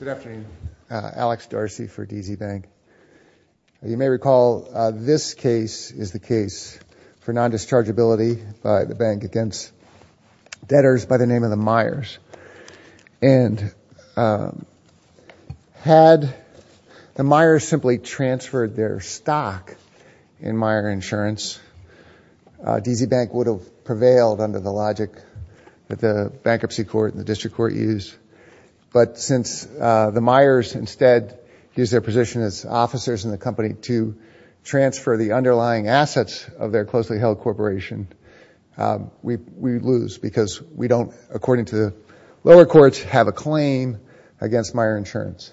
Good afternoon. Alex Darcy for DZ Bank. You may recall this case is the case for non-dischargeability by the bank against debtors by the name of the Meyers. And had the Meyers simply transferred their stock in Meyer Insurance, DZ Bank would have prevailed under the logic that the Bankruptcy Court and the District Court use. But since the Meyers instead use their position as officers in the company to transfer the underlying assets of their closely held corporation, we lose because we don't, according to the lower courts, have a claim against Meyer Insurance.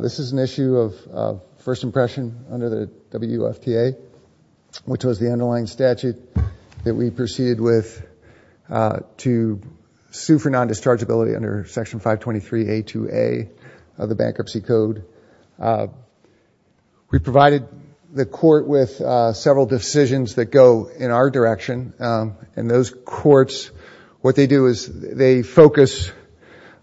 This is an issue of first impression under the WFTA, which was the underlying statute that we proceeded with to sue for non- dischargeability under Section 523A2A of the Bankruptcy Code. We provided the court with several decisions that go in our direction. And those courts, what they do is they focus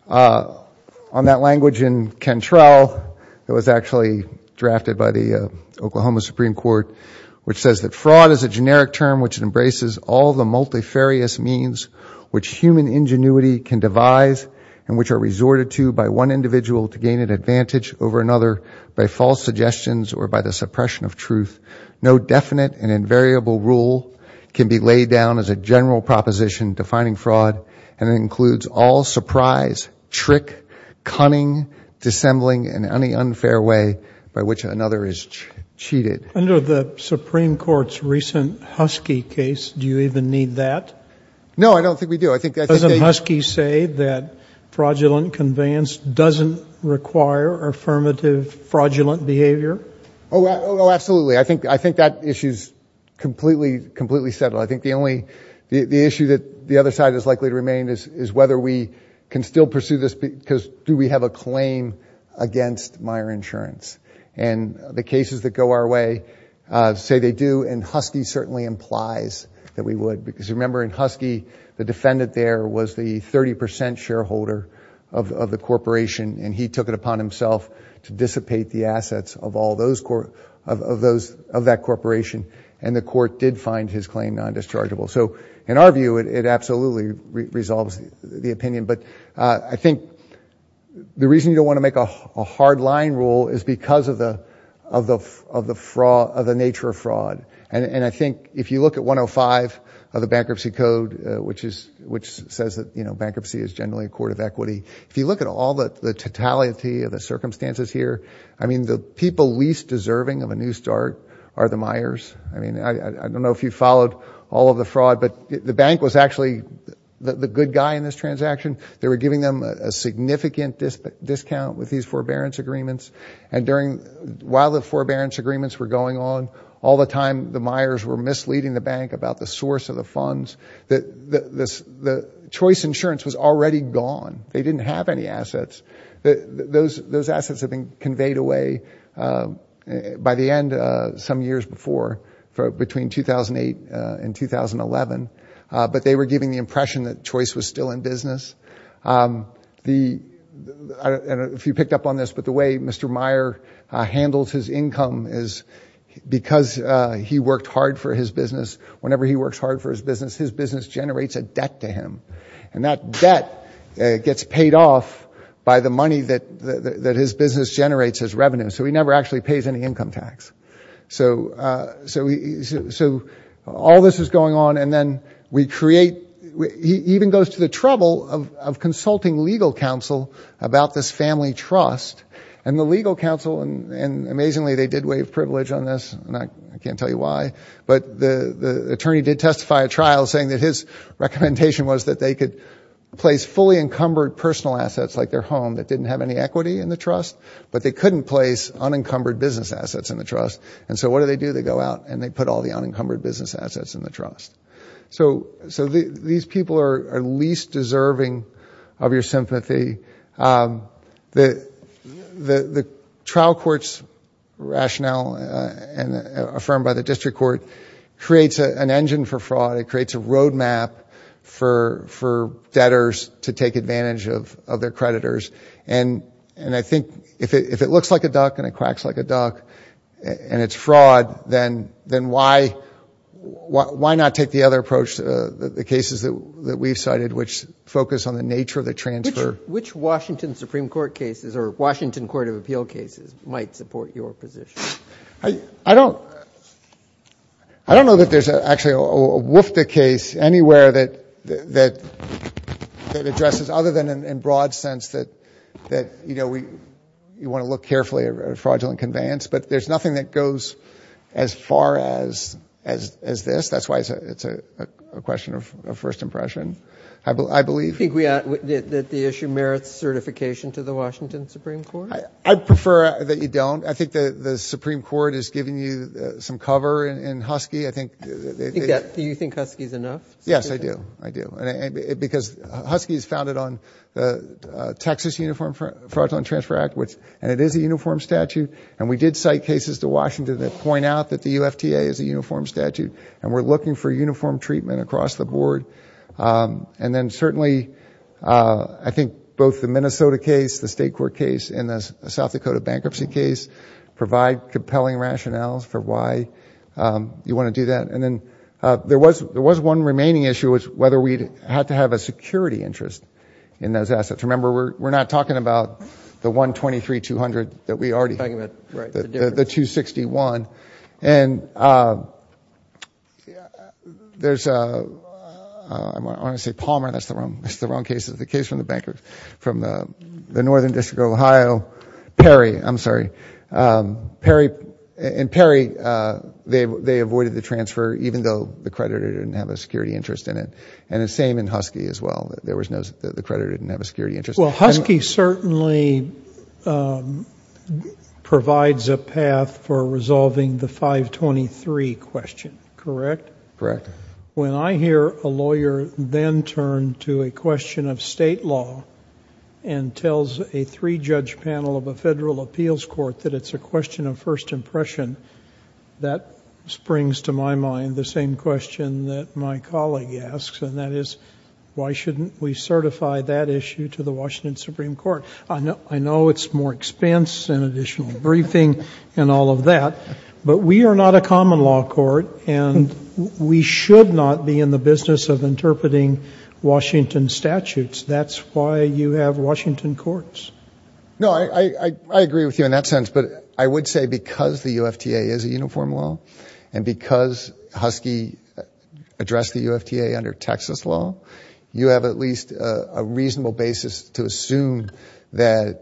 on that language in Cantrell that was actually drafted by the Oklahoma Supreme Court, which says that fraud is a generic term which embraces all the multifarious means which human ingenuity can devise and which are resorted to by one individual to gain an advantage over another by false suggestions or by the suppression of truth. No definite and invariable rule can be laid down as a general proposition defining fraud and includes all surprise, trick, cunning, dissembling, and any unfair way by which another is need that? No, I don't think we do. Doesn't Husky say that fraudulent conveyance doesn't require affirmative fraudulent behavior? Oh, absolutely. I think that issue is completely settled. I think the only issue that the other side is likely to remain is whether we can still pursue this because do we have a claim against Meyer Insurance? And the cases that go our way say they do, and Husky certainly implies that we would because remember in Husky the defendant there was the 30% shareholder of the corporation and he took it upon himself to dissipate the assets of that corporation and the court did find his claim non-dischargeable. So in our view it absolutely resolves the opinion, but I think the reason you don't want to make a hard line rule is because of the nature of fraud. And I think if you look at 105 of the Bankruptcy Code which says that bankruptcy is generally a court of equity, if you look at all the totality of the circumstances here, I mean the people least deserving of a new start are the Meyers. I mean I don't know if you followed all of the fraud, but the bank was actually the good guy in this transaction. They were giving them a significant discount with these forbearance agreements and while the forbearance agreements were going on, all the time the Meyers were misleading the bank about the source of the funds. The choice insurance was already gone. They didn't have any assets. Those assets have been conveyed away by the end of some years before, between 2008 and 2011, but they were giving the impression that choice was still in business. If you picked up on this, but the way Mr. Meyer handles his income is because he worked hard for his business. Whenever he works hard for his business, his business generates a debt to him and that debt gets paid off by the money that his business generates as revenue, so he never actually pays any income tax. So all this is going on and then we create, he even goes to the trouble of legal counsel and amazingly they did waive privilege on this and I can't tell you why, but the attorney did testify at trial saying that his recommendation was that they could place fully encumbered personal assets like their home that didn't have any equity in the trust, but they couldn't place unencumbered business assets in the trust and so what do they do? They go out and they put all the unencumbered business assets in the trust. So these people are least deserving of your sympathy. The trial court's rationale affirmed by the district court creates an engine for fraud. It creates a roadmap for debtors to take advantage of their creditors and I think if it looks like a duck and it cracks like a duck and it's fraud, then why not take the other approach, the cases that we've cited which focus on the nature of the transfer. Which Washington Supreme Court cases or Washington Court of Appeal cases might support your position? I don't know that there's actually a WFDA case anywhere that addresses, other than in broad sense that you want to look carefully at fraudulent conveyance, but there's nothing that goes as far as this. That's why it's a question of first impression, I believe. Do you think the issue merits certification to the Washington Supreme Court? I'd prefer that you don't. I think the Supreme Court is giving you some cover in Husky. Do you think Husky is enough? Yes, I do. I do. Because Husky is founded on the Texas Uniform Fraudulent Transfer Act and it is a uniform statute and we did cite cases to Washington that point out that the UFTA is a uniform statute and we're looking for uniform treatment across the board. And then certainly I think both the Minnesota case, the State Court case, and the South Dakota bankruptcy case provide compelling rationales for why you want to do that. And then there was one remaining issue, was whether we had to have a security interest in those assets. Remember, we're not talking about the 123-200 that we already have, the 261. And there's, I want to say Palmer, that's the wrong case. It's the case from the Northern District of Ohio. Perry, I'm sorry. Perry, and Perry, they avoided the transfer even though the creditor didn't have a security interest in it. And the same in Husky as well. There was no, the creditor didn't have a security interest. Well, Husky certainly provides a path for resolving the 523 question, correct? Correct. When I hear a lawyer then turn to a question of state law and tells a three-judge panel of a federal appeals court that it's a question of first impression, that springs to my mind the same question that my colleague asks and that is, why shouldn't we certify that issue to the Washington Supreme Court? I know it's more expense and additional briefing and all of that, but we are not a common law court and we should not be in the business of interpreting Washington statutes. That's why you have Washington courts. No, I agree with you in that sense, but I would say because the UFTA is a Texas law, you have at least a reasonable basis to assume that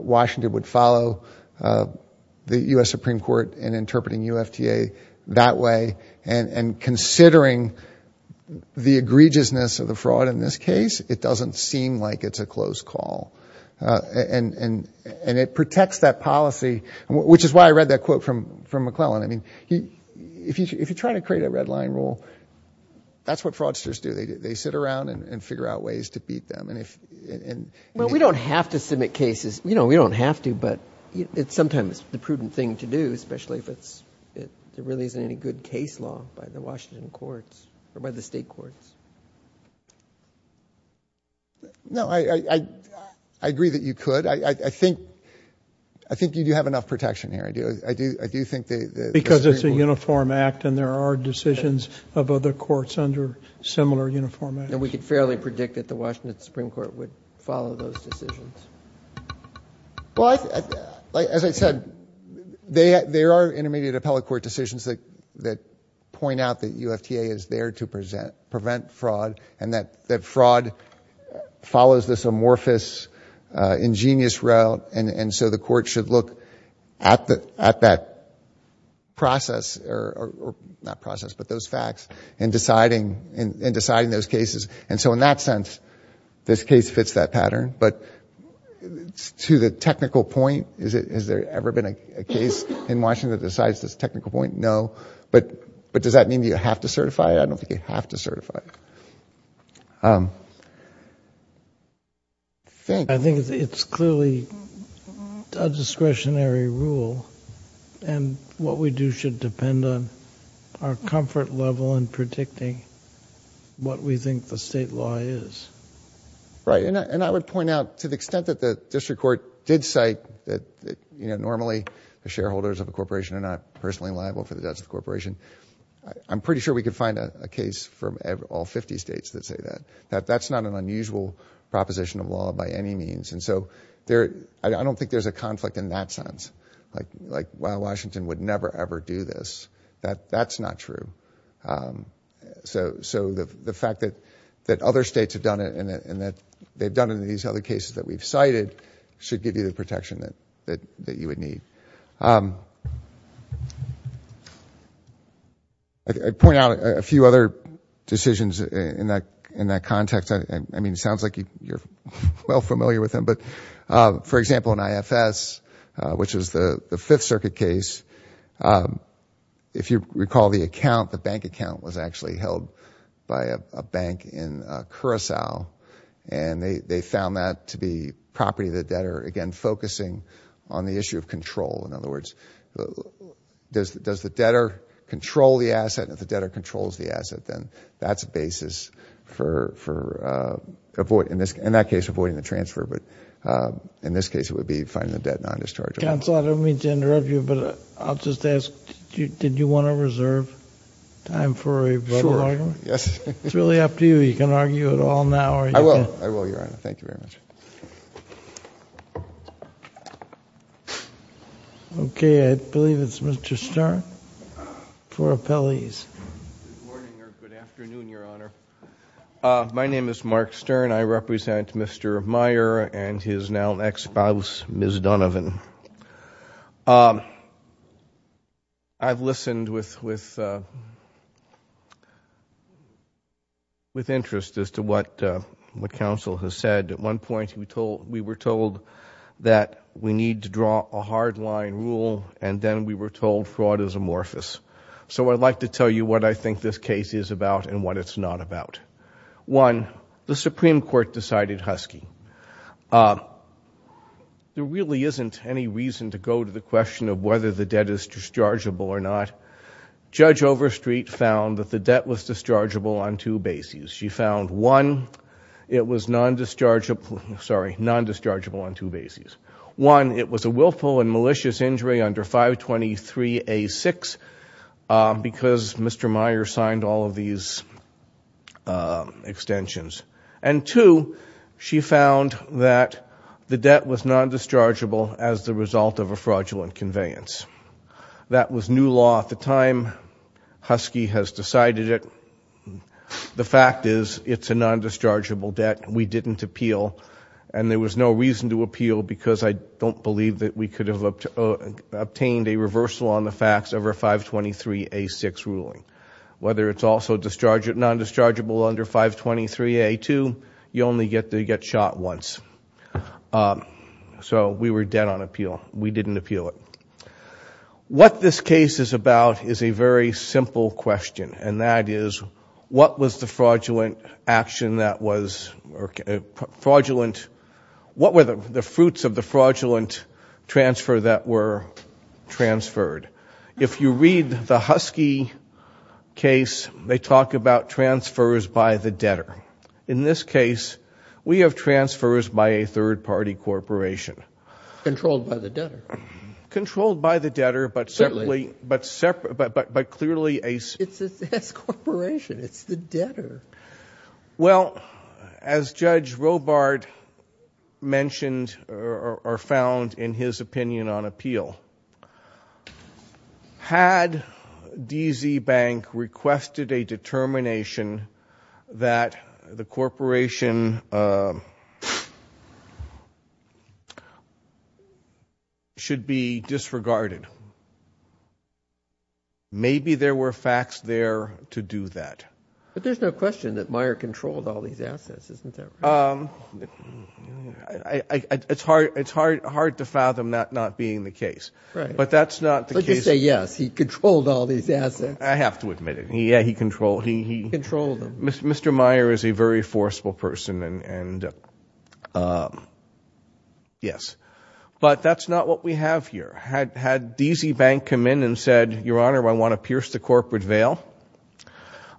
Washington would follow the U.S. Supreme Court in interpreting UFTA that way. And considering the egregiousness of the fraud in this case, it doesn't seem like it's a close call. And it protects that policy, which is why I read that quote from McClellan. I mean, if you try to create a red line rule, that's what fraudsters do. They sit around and figure out ways to beat them. Well, we don't have to submit cases. You know, we don't have to, but it's sometimes the prudent thing to do, especially if it really isn't any good case law by the Washington courts or by the state courts. No, I agree that you could. I think you do have enough protection here. I do think that the Supreme Court... Similar uniformity. And we could fairly predict that the Washington Supreme Court would follow those decisions. Well, as I said, there are intermediate appellate court decisions that point out that UFTA is there to prevent fraud and that fraud follows this amorphous, ingenious route. And so the court should look at that process, or not process, but those facts, in deciding those cases. And so in that sense, this case fits that pattern. But to the technical point, has there ever been a case in Washington that decides this technical point? No. But does that mean you have to certify it? I don't think you have to certify it. I think it's clearly a discretionary rule, and what we do should depend on our comfort level in predicting what we think the state law is. Right. And I would point out, to the extent that the district court did cite that, you know, normally the shareholders of a corporation are not personally liable for the debts of the corporation, I'm pretty sure we could find a case from all 50 states that say that. That's not an unusual proposition of law by any means. And so I don't think there's a conflict in that sense. Like, why Washington would never ever do this. That's not true. So the fact that other states have done it, and that they've done it in these other cases that we've cited, should give you the protection that you would need. I'd point out a few other decisions in that context. I mean, it sounds like you're well familiar with them, but for example, in IFS, which is the Fifth Circuit case, if you recall the account, the bank account was actually held by a bank in Curaçao, and they found that to be property of the debtor, again focusing on the issue of control. In other words, does the debtor control the asset? If the debtor controls the asset, then that's a basis for avoid in that case, avoiding the transfer. But in this case, it would be finding the debt not as chargeable. Counsel, I don't mean to interrupt you, but I'll just ask, did you want to reserve time for a broader argument? Sure, yes. It's really up to you. You can argue it all now, or you can... I will. I will, Your Honor. Thank you very much. Okay. I believe it's Mr. Stern for appellees. Good morning, or good afternoon, Your Honor. My name is Mark Stern. I represent Mr. Meyer and his now ex-spouse, Ms. Donovan. I've listened with interest as to what counsel has said. At one point, we were told that we need to draw a hardline rule, and then we were told fraud is amorphous. So I'd like to tell you what I think this case is about and what it's not about. One, the Supreme Court decided Husky. There really isn't any reason to go to the question of whether the debt is dischargeable or not. Judge Overstreet found that the debt was dischargeable on two bases. She found, one, it was non-dischargeable... sorry, non-dischargeable on two bases. One, it was a willful and malicious injury under 523A6, because Mr. Meyer signed all of these extensions. And two, she found that the debt was non-dischargeable as the result of a fraudulent conveyance. That was new law at the time. Husky has decided it. The fact is, it's a non-dischargeable debt. We didn't appeal, and there was no reason to appeal because I don't believe that we could have obtained a reversal on the facts over 523A6 ruling. Whether it's also non-dischargeable under 523A2, you only get shot once. So we were dead on appeal. We didn't appeal it. What this case is about is a very simple question, and that is, what was the fruits of the fraudulent transfer that were transferred? If you read the Husky case, they talk about transfers by the debtor. In this case, we have transfers by a third-party corporation. Controlled by the debtor. Controlled by the debtor, but clearly... It's a corporation. It's the debtor. Well, as Judge Robart mentioned or found in his opinion on appeal, had D. Z. Bank requested a determination that the corporation should be disregarded, maybe there were facts there to do that. But there's no question that Meyer controlled all these assets, isn't there? It's hard to fathom that not being the case, but that's not the case... But you say, yes, he controlled all these assets. I have to admit it. Yeah, he controlled them. Mr. Meyer is a very forceful person, and yes. But that's not what we have here. Had D. Z. Bank come in and said, Your Honor, I want to pierce the corporate veil,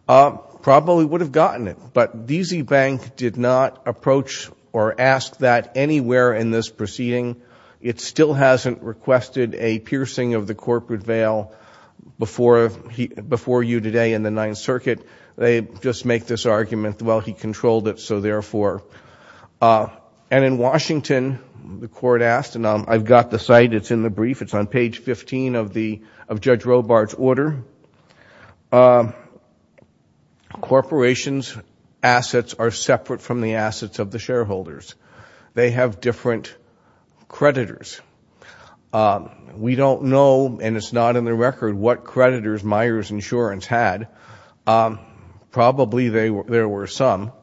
probably would have gotten it. But D. Z. Bank did not approach or ask that anywhere in this proceeding. It still hasn't requested a piercing of the corporate veil before you today in the Ninth Circuit. They just make this argument, well, he controlled it, so therefore... And in Washington, the court asked, and I've got the site, it's in the brief, it's on page 15 of Judge Robart's order, corporations' assets are separate from the assets of the shareholders. They have different creditors. We don't know, and it's not in the record, what creditors Meyer's insurance had. Probably there were some.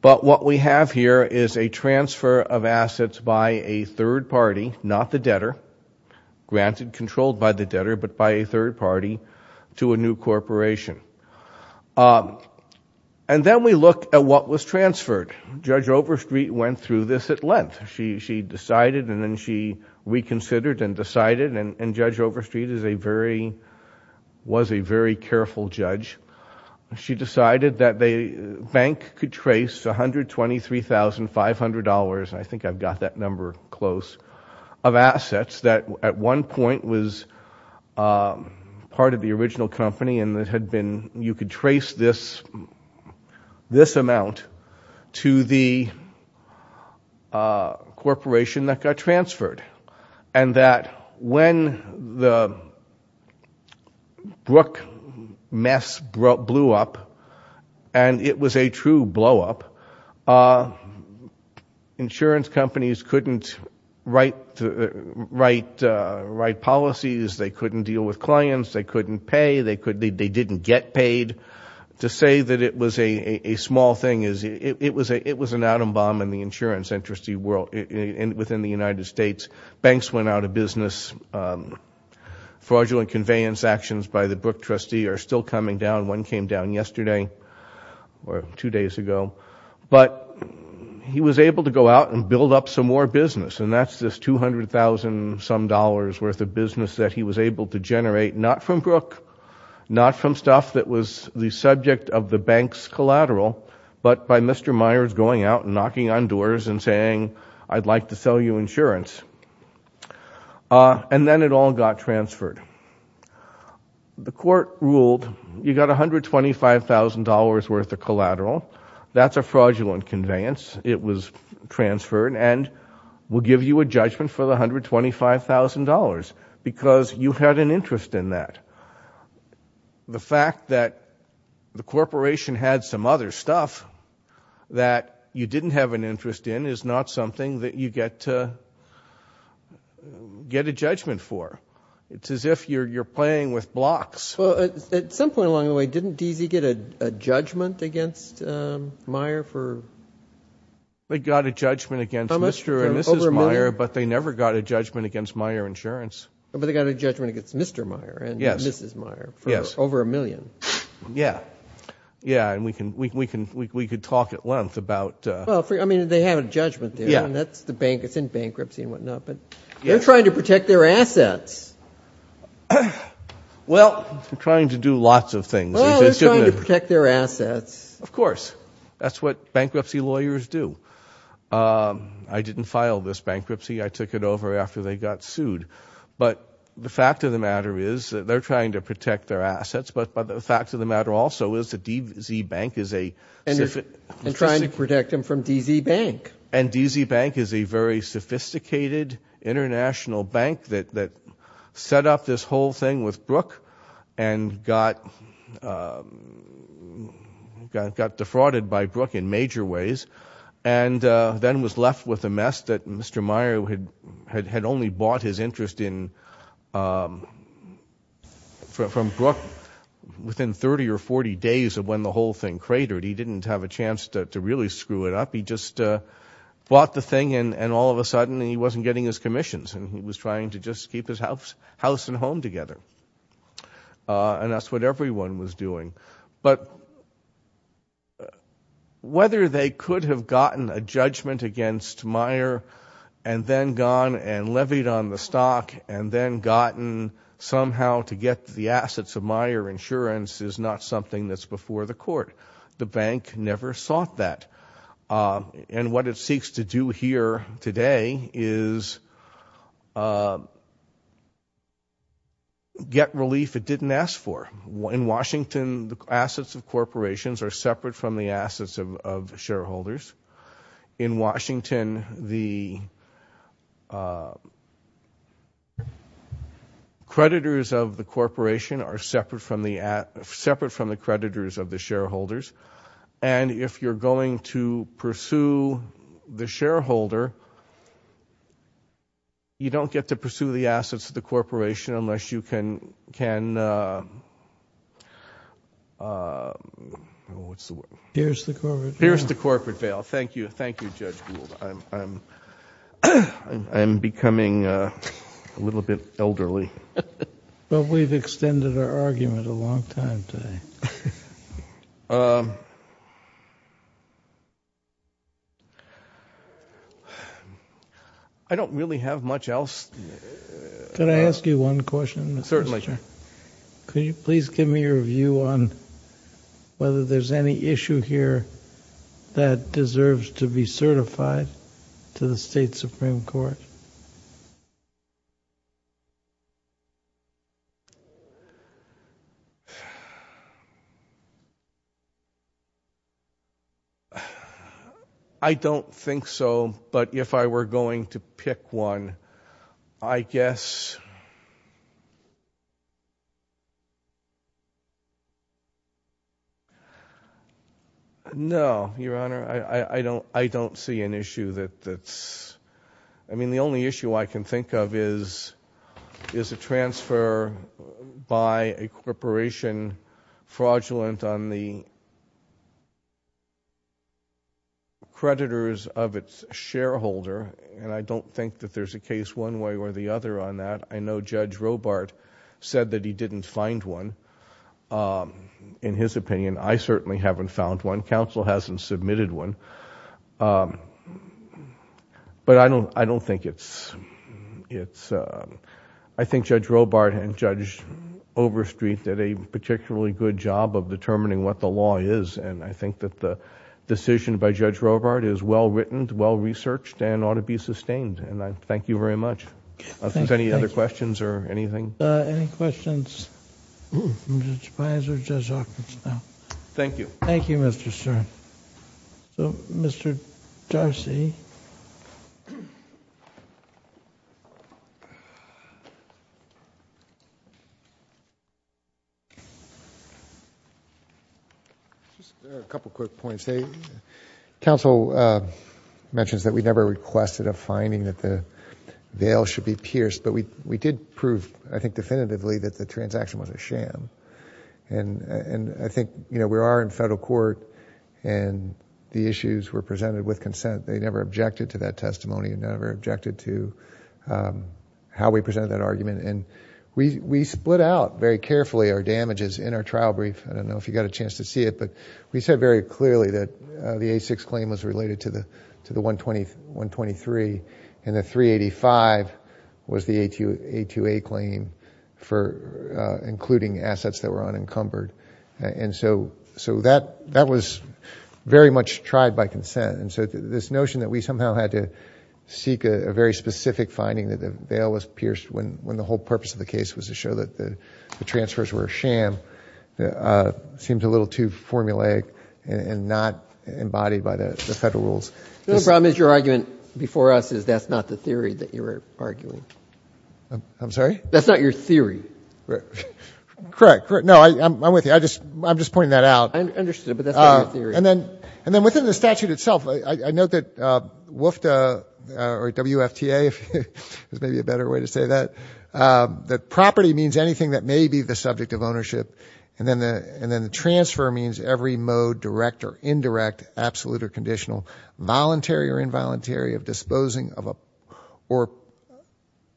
But what we have here is a transfer of assets by a third party, not the debtor, granted controlled by the debtor, but by a third party to a new corporation. And then we look at what was transferred. Judge Overstreet went through this at length. She decided, and then she reconsidered and decided, and Judge Overstreet was a very careful judge. She decided that the bank could trace $123,500, and I think I've got that number close, of assets that at one point was part of the original company and that had been, you could trace this amount to the corporation that got transferred. And that when the Brook mess blew up, and it was a true blow-up, insurance companies couldn't write policies, they couldn't deal with clients, they couldn't pay, they didn't get paid. To say that it was a small thing, it was an atom bomb in the insurance industry world, within the United States. Banks went out of business. Fraudulent conveyance actions by the Brook trustee are still coming down. One came down yesterday or two days ago. But he was able to go out and build up some more business, and that's this $200,000-some dollars worth of business that he was able to generate, not from Brook, not from stuff that was the subject of the bank's collateral, but by Mr. Myers going out and knocking on doors and saying, I'd like to sell you insurance. And then it all got transferred. The court ruled, you got $125,000 worth of collateral. That's a fraudulent conveyance. It was transferred, and we'll give you a judgment for the $125,000, because you had an interest in that. The fact that the corporation had some other stuff that you didn't have an interest in is not something that you get to get a judgment for. It's as if you're playing with blocks. Well, at some point along the way, didn't DZ get a judgment against Meyer for over a million? They got a judgment against Mr. and Mrs. Meyer, but they never got a judgment against Meyer Insurance. But they got a judgment against Mr. Meyer and Mrs. Meyer for over a million. Yeah. Yeah, and we could talk at length about it. I mean, they have a judgment there, and it's in bankruptcy and whatnot. But they're trying to protect their assets. Well, they're trying to do lots of things. Well, they're trying to protect their assets. Of course. That's what bankruptcy lawyers do. I didn't file this bankruptcy. I took it over after they got sued. But the fact of the matter is that they're trying to protect their assets. But the fact of the matter also is that DZ Bank is a- And they're trying to protect them from DZ Bank. And DZ Bank is a very sophisticated international bank that set up this whole thing with Brook and got defrauded by Brook in major ways and then was left with a mess that Mr. Meyer had only bought his interest in from Brook within 30 or 40 days of when the whole thing cratered. He didn't have a chance to really screw it up. He just bought the thing. And all of a sudden, he wasn't getting his commissions. And he was trying to just keep his house and home together. And that's what everyone was doing. But whether they could have gotten a judgment against Meyer and then gone and levied on the stock and then gotten somehow to get the assets of Meyer Insurance is not something that's before the court. The bank never sought that. And what it seeks to do here today is get relief it didn't ask for. In Washington, the assets of corporations are separate from the assets of shareholders. In Washington, the creditors of the corporation are separate from the creditors of the shareholders. And if you're going to pursue the shareholder, you don't get to pursue the assets of the corporation unless you can pierce the corporate veil. Thank you, Judge Gould. I'm becoming a little bit elderly. But we've extended our argument a long time today. I don't really have much else. Can I ask you one question? Certainly. Could you please give me your view on whether there's any issue here that deserves to be certified to the state Supreme Court? I don't think so. But if I were going to pick one, I guess. No, Your Honor. I don't see an issue that's... I mean, the only issue I can think of is a transfer by a corporation fraudulent on the creditors of its shareholder. And I don't think that there's a case one way or the other on that. I know Judge Robart said that he didn't find one. In his opinion, I certainly haven't found one. Counsel hasn't submitted one. But I don't think it's... I think Judge Robart and Judge Overstreet did a particularly good job of determining what the law is. And I think that the decision by Judge Robart is well-written, well-researched, and ought to be sustained. And I thank you very much. Are there any other questions or anything? Any questions from Judge Pines or Judge Hawkins now? Thank you. Thank you, Mr. Stern. So, Mr. Jarcy. A couple quick points. Counsel mentions that we never requested a finding that the veil should be pierced. But we did prove, I think definitively, that the transaction was a sham. And I think we are in federal court and the issues were presented with consent. They never objected to that testimony and never objected to how we presented that argument. And we split out very carefully our damages in our trial brief. I don't know if you got a chance to see it, but we said very clearly that the A6 claim was related to the 123. And the 385 was the A2A claim for including assets that were unencumbered. And so that was very much tried by consent. And so this notion that we somehow had to seek a very specific finding, that the veil was pierced when the whole purpose of the case was to show that the transfers were a sham, seemed a little too formulaic and not embodied by the federal rules. The only problem is your argument before us is that's not the theory that you're arguing. I'm sorry? That's not your theory. Correct. No, I'm with you. I'm just pointing that out. I understood, but that's not your theory. And then within the statute itself, I note that WFTA, if there's maybe a better way to say that, that property means anything that may be the subject of ownership. And then the transfer means every mode, direct or indirect, absolute or conditional, voluntary or involuntary of disposing or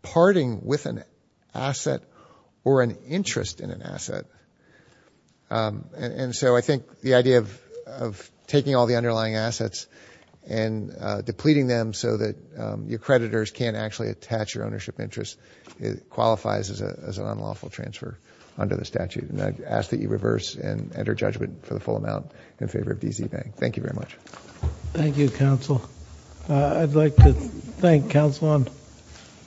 parting with an asset or an interest in an asset. And so I think the idea of taking all the underlying assets and depleting them so that your creditors can't actually attach your ownership interest qualifies as an unlawful transfer under the statute. And I ask that you reverse and enter judgment for the full amount in favor of DZ Bank. Thank you very much. Thank you, counsel. I'd like to thank counsel on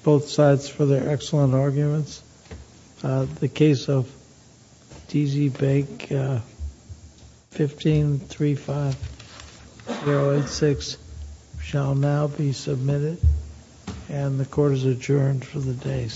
both sides for their excellent arguments. The case of DZ Bank 1535086 shall now be submitted. And the court is adjourned for the day.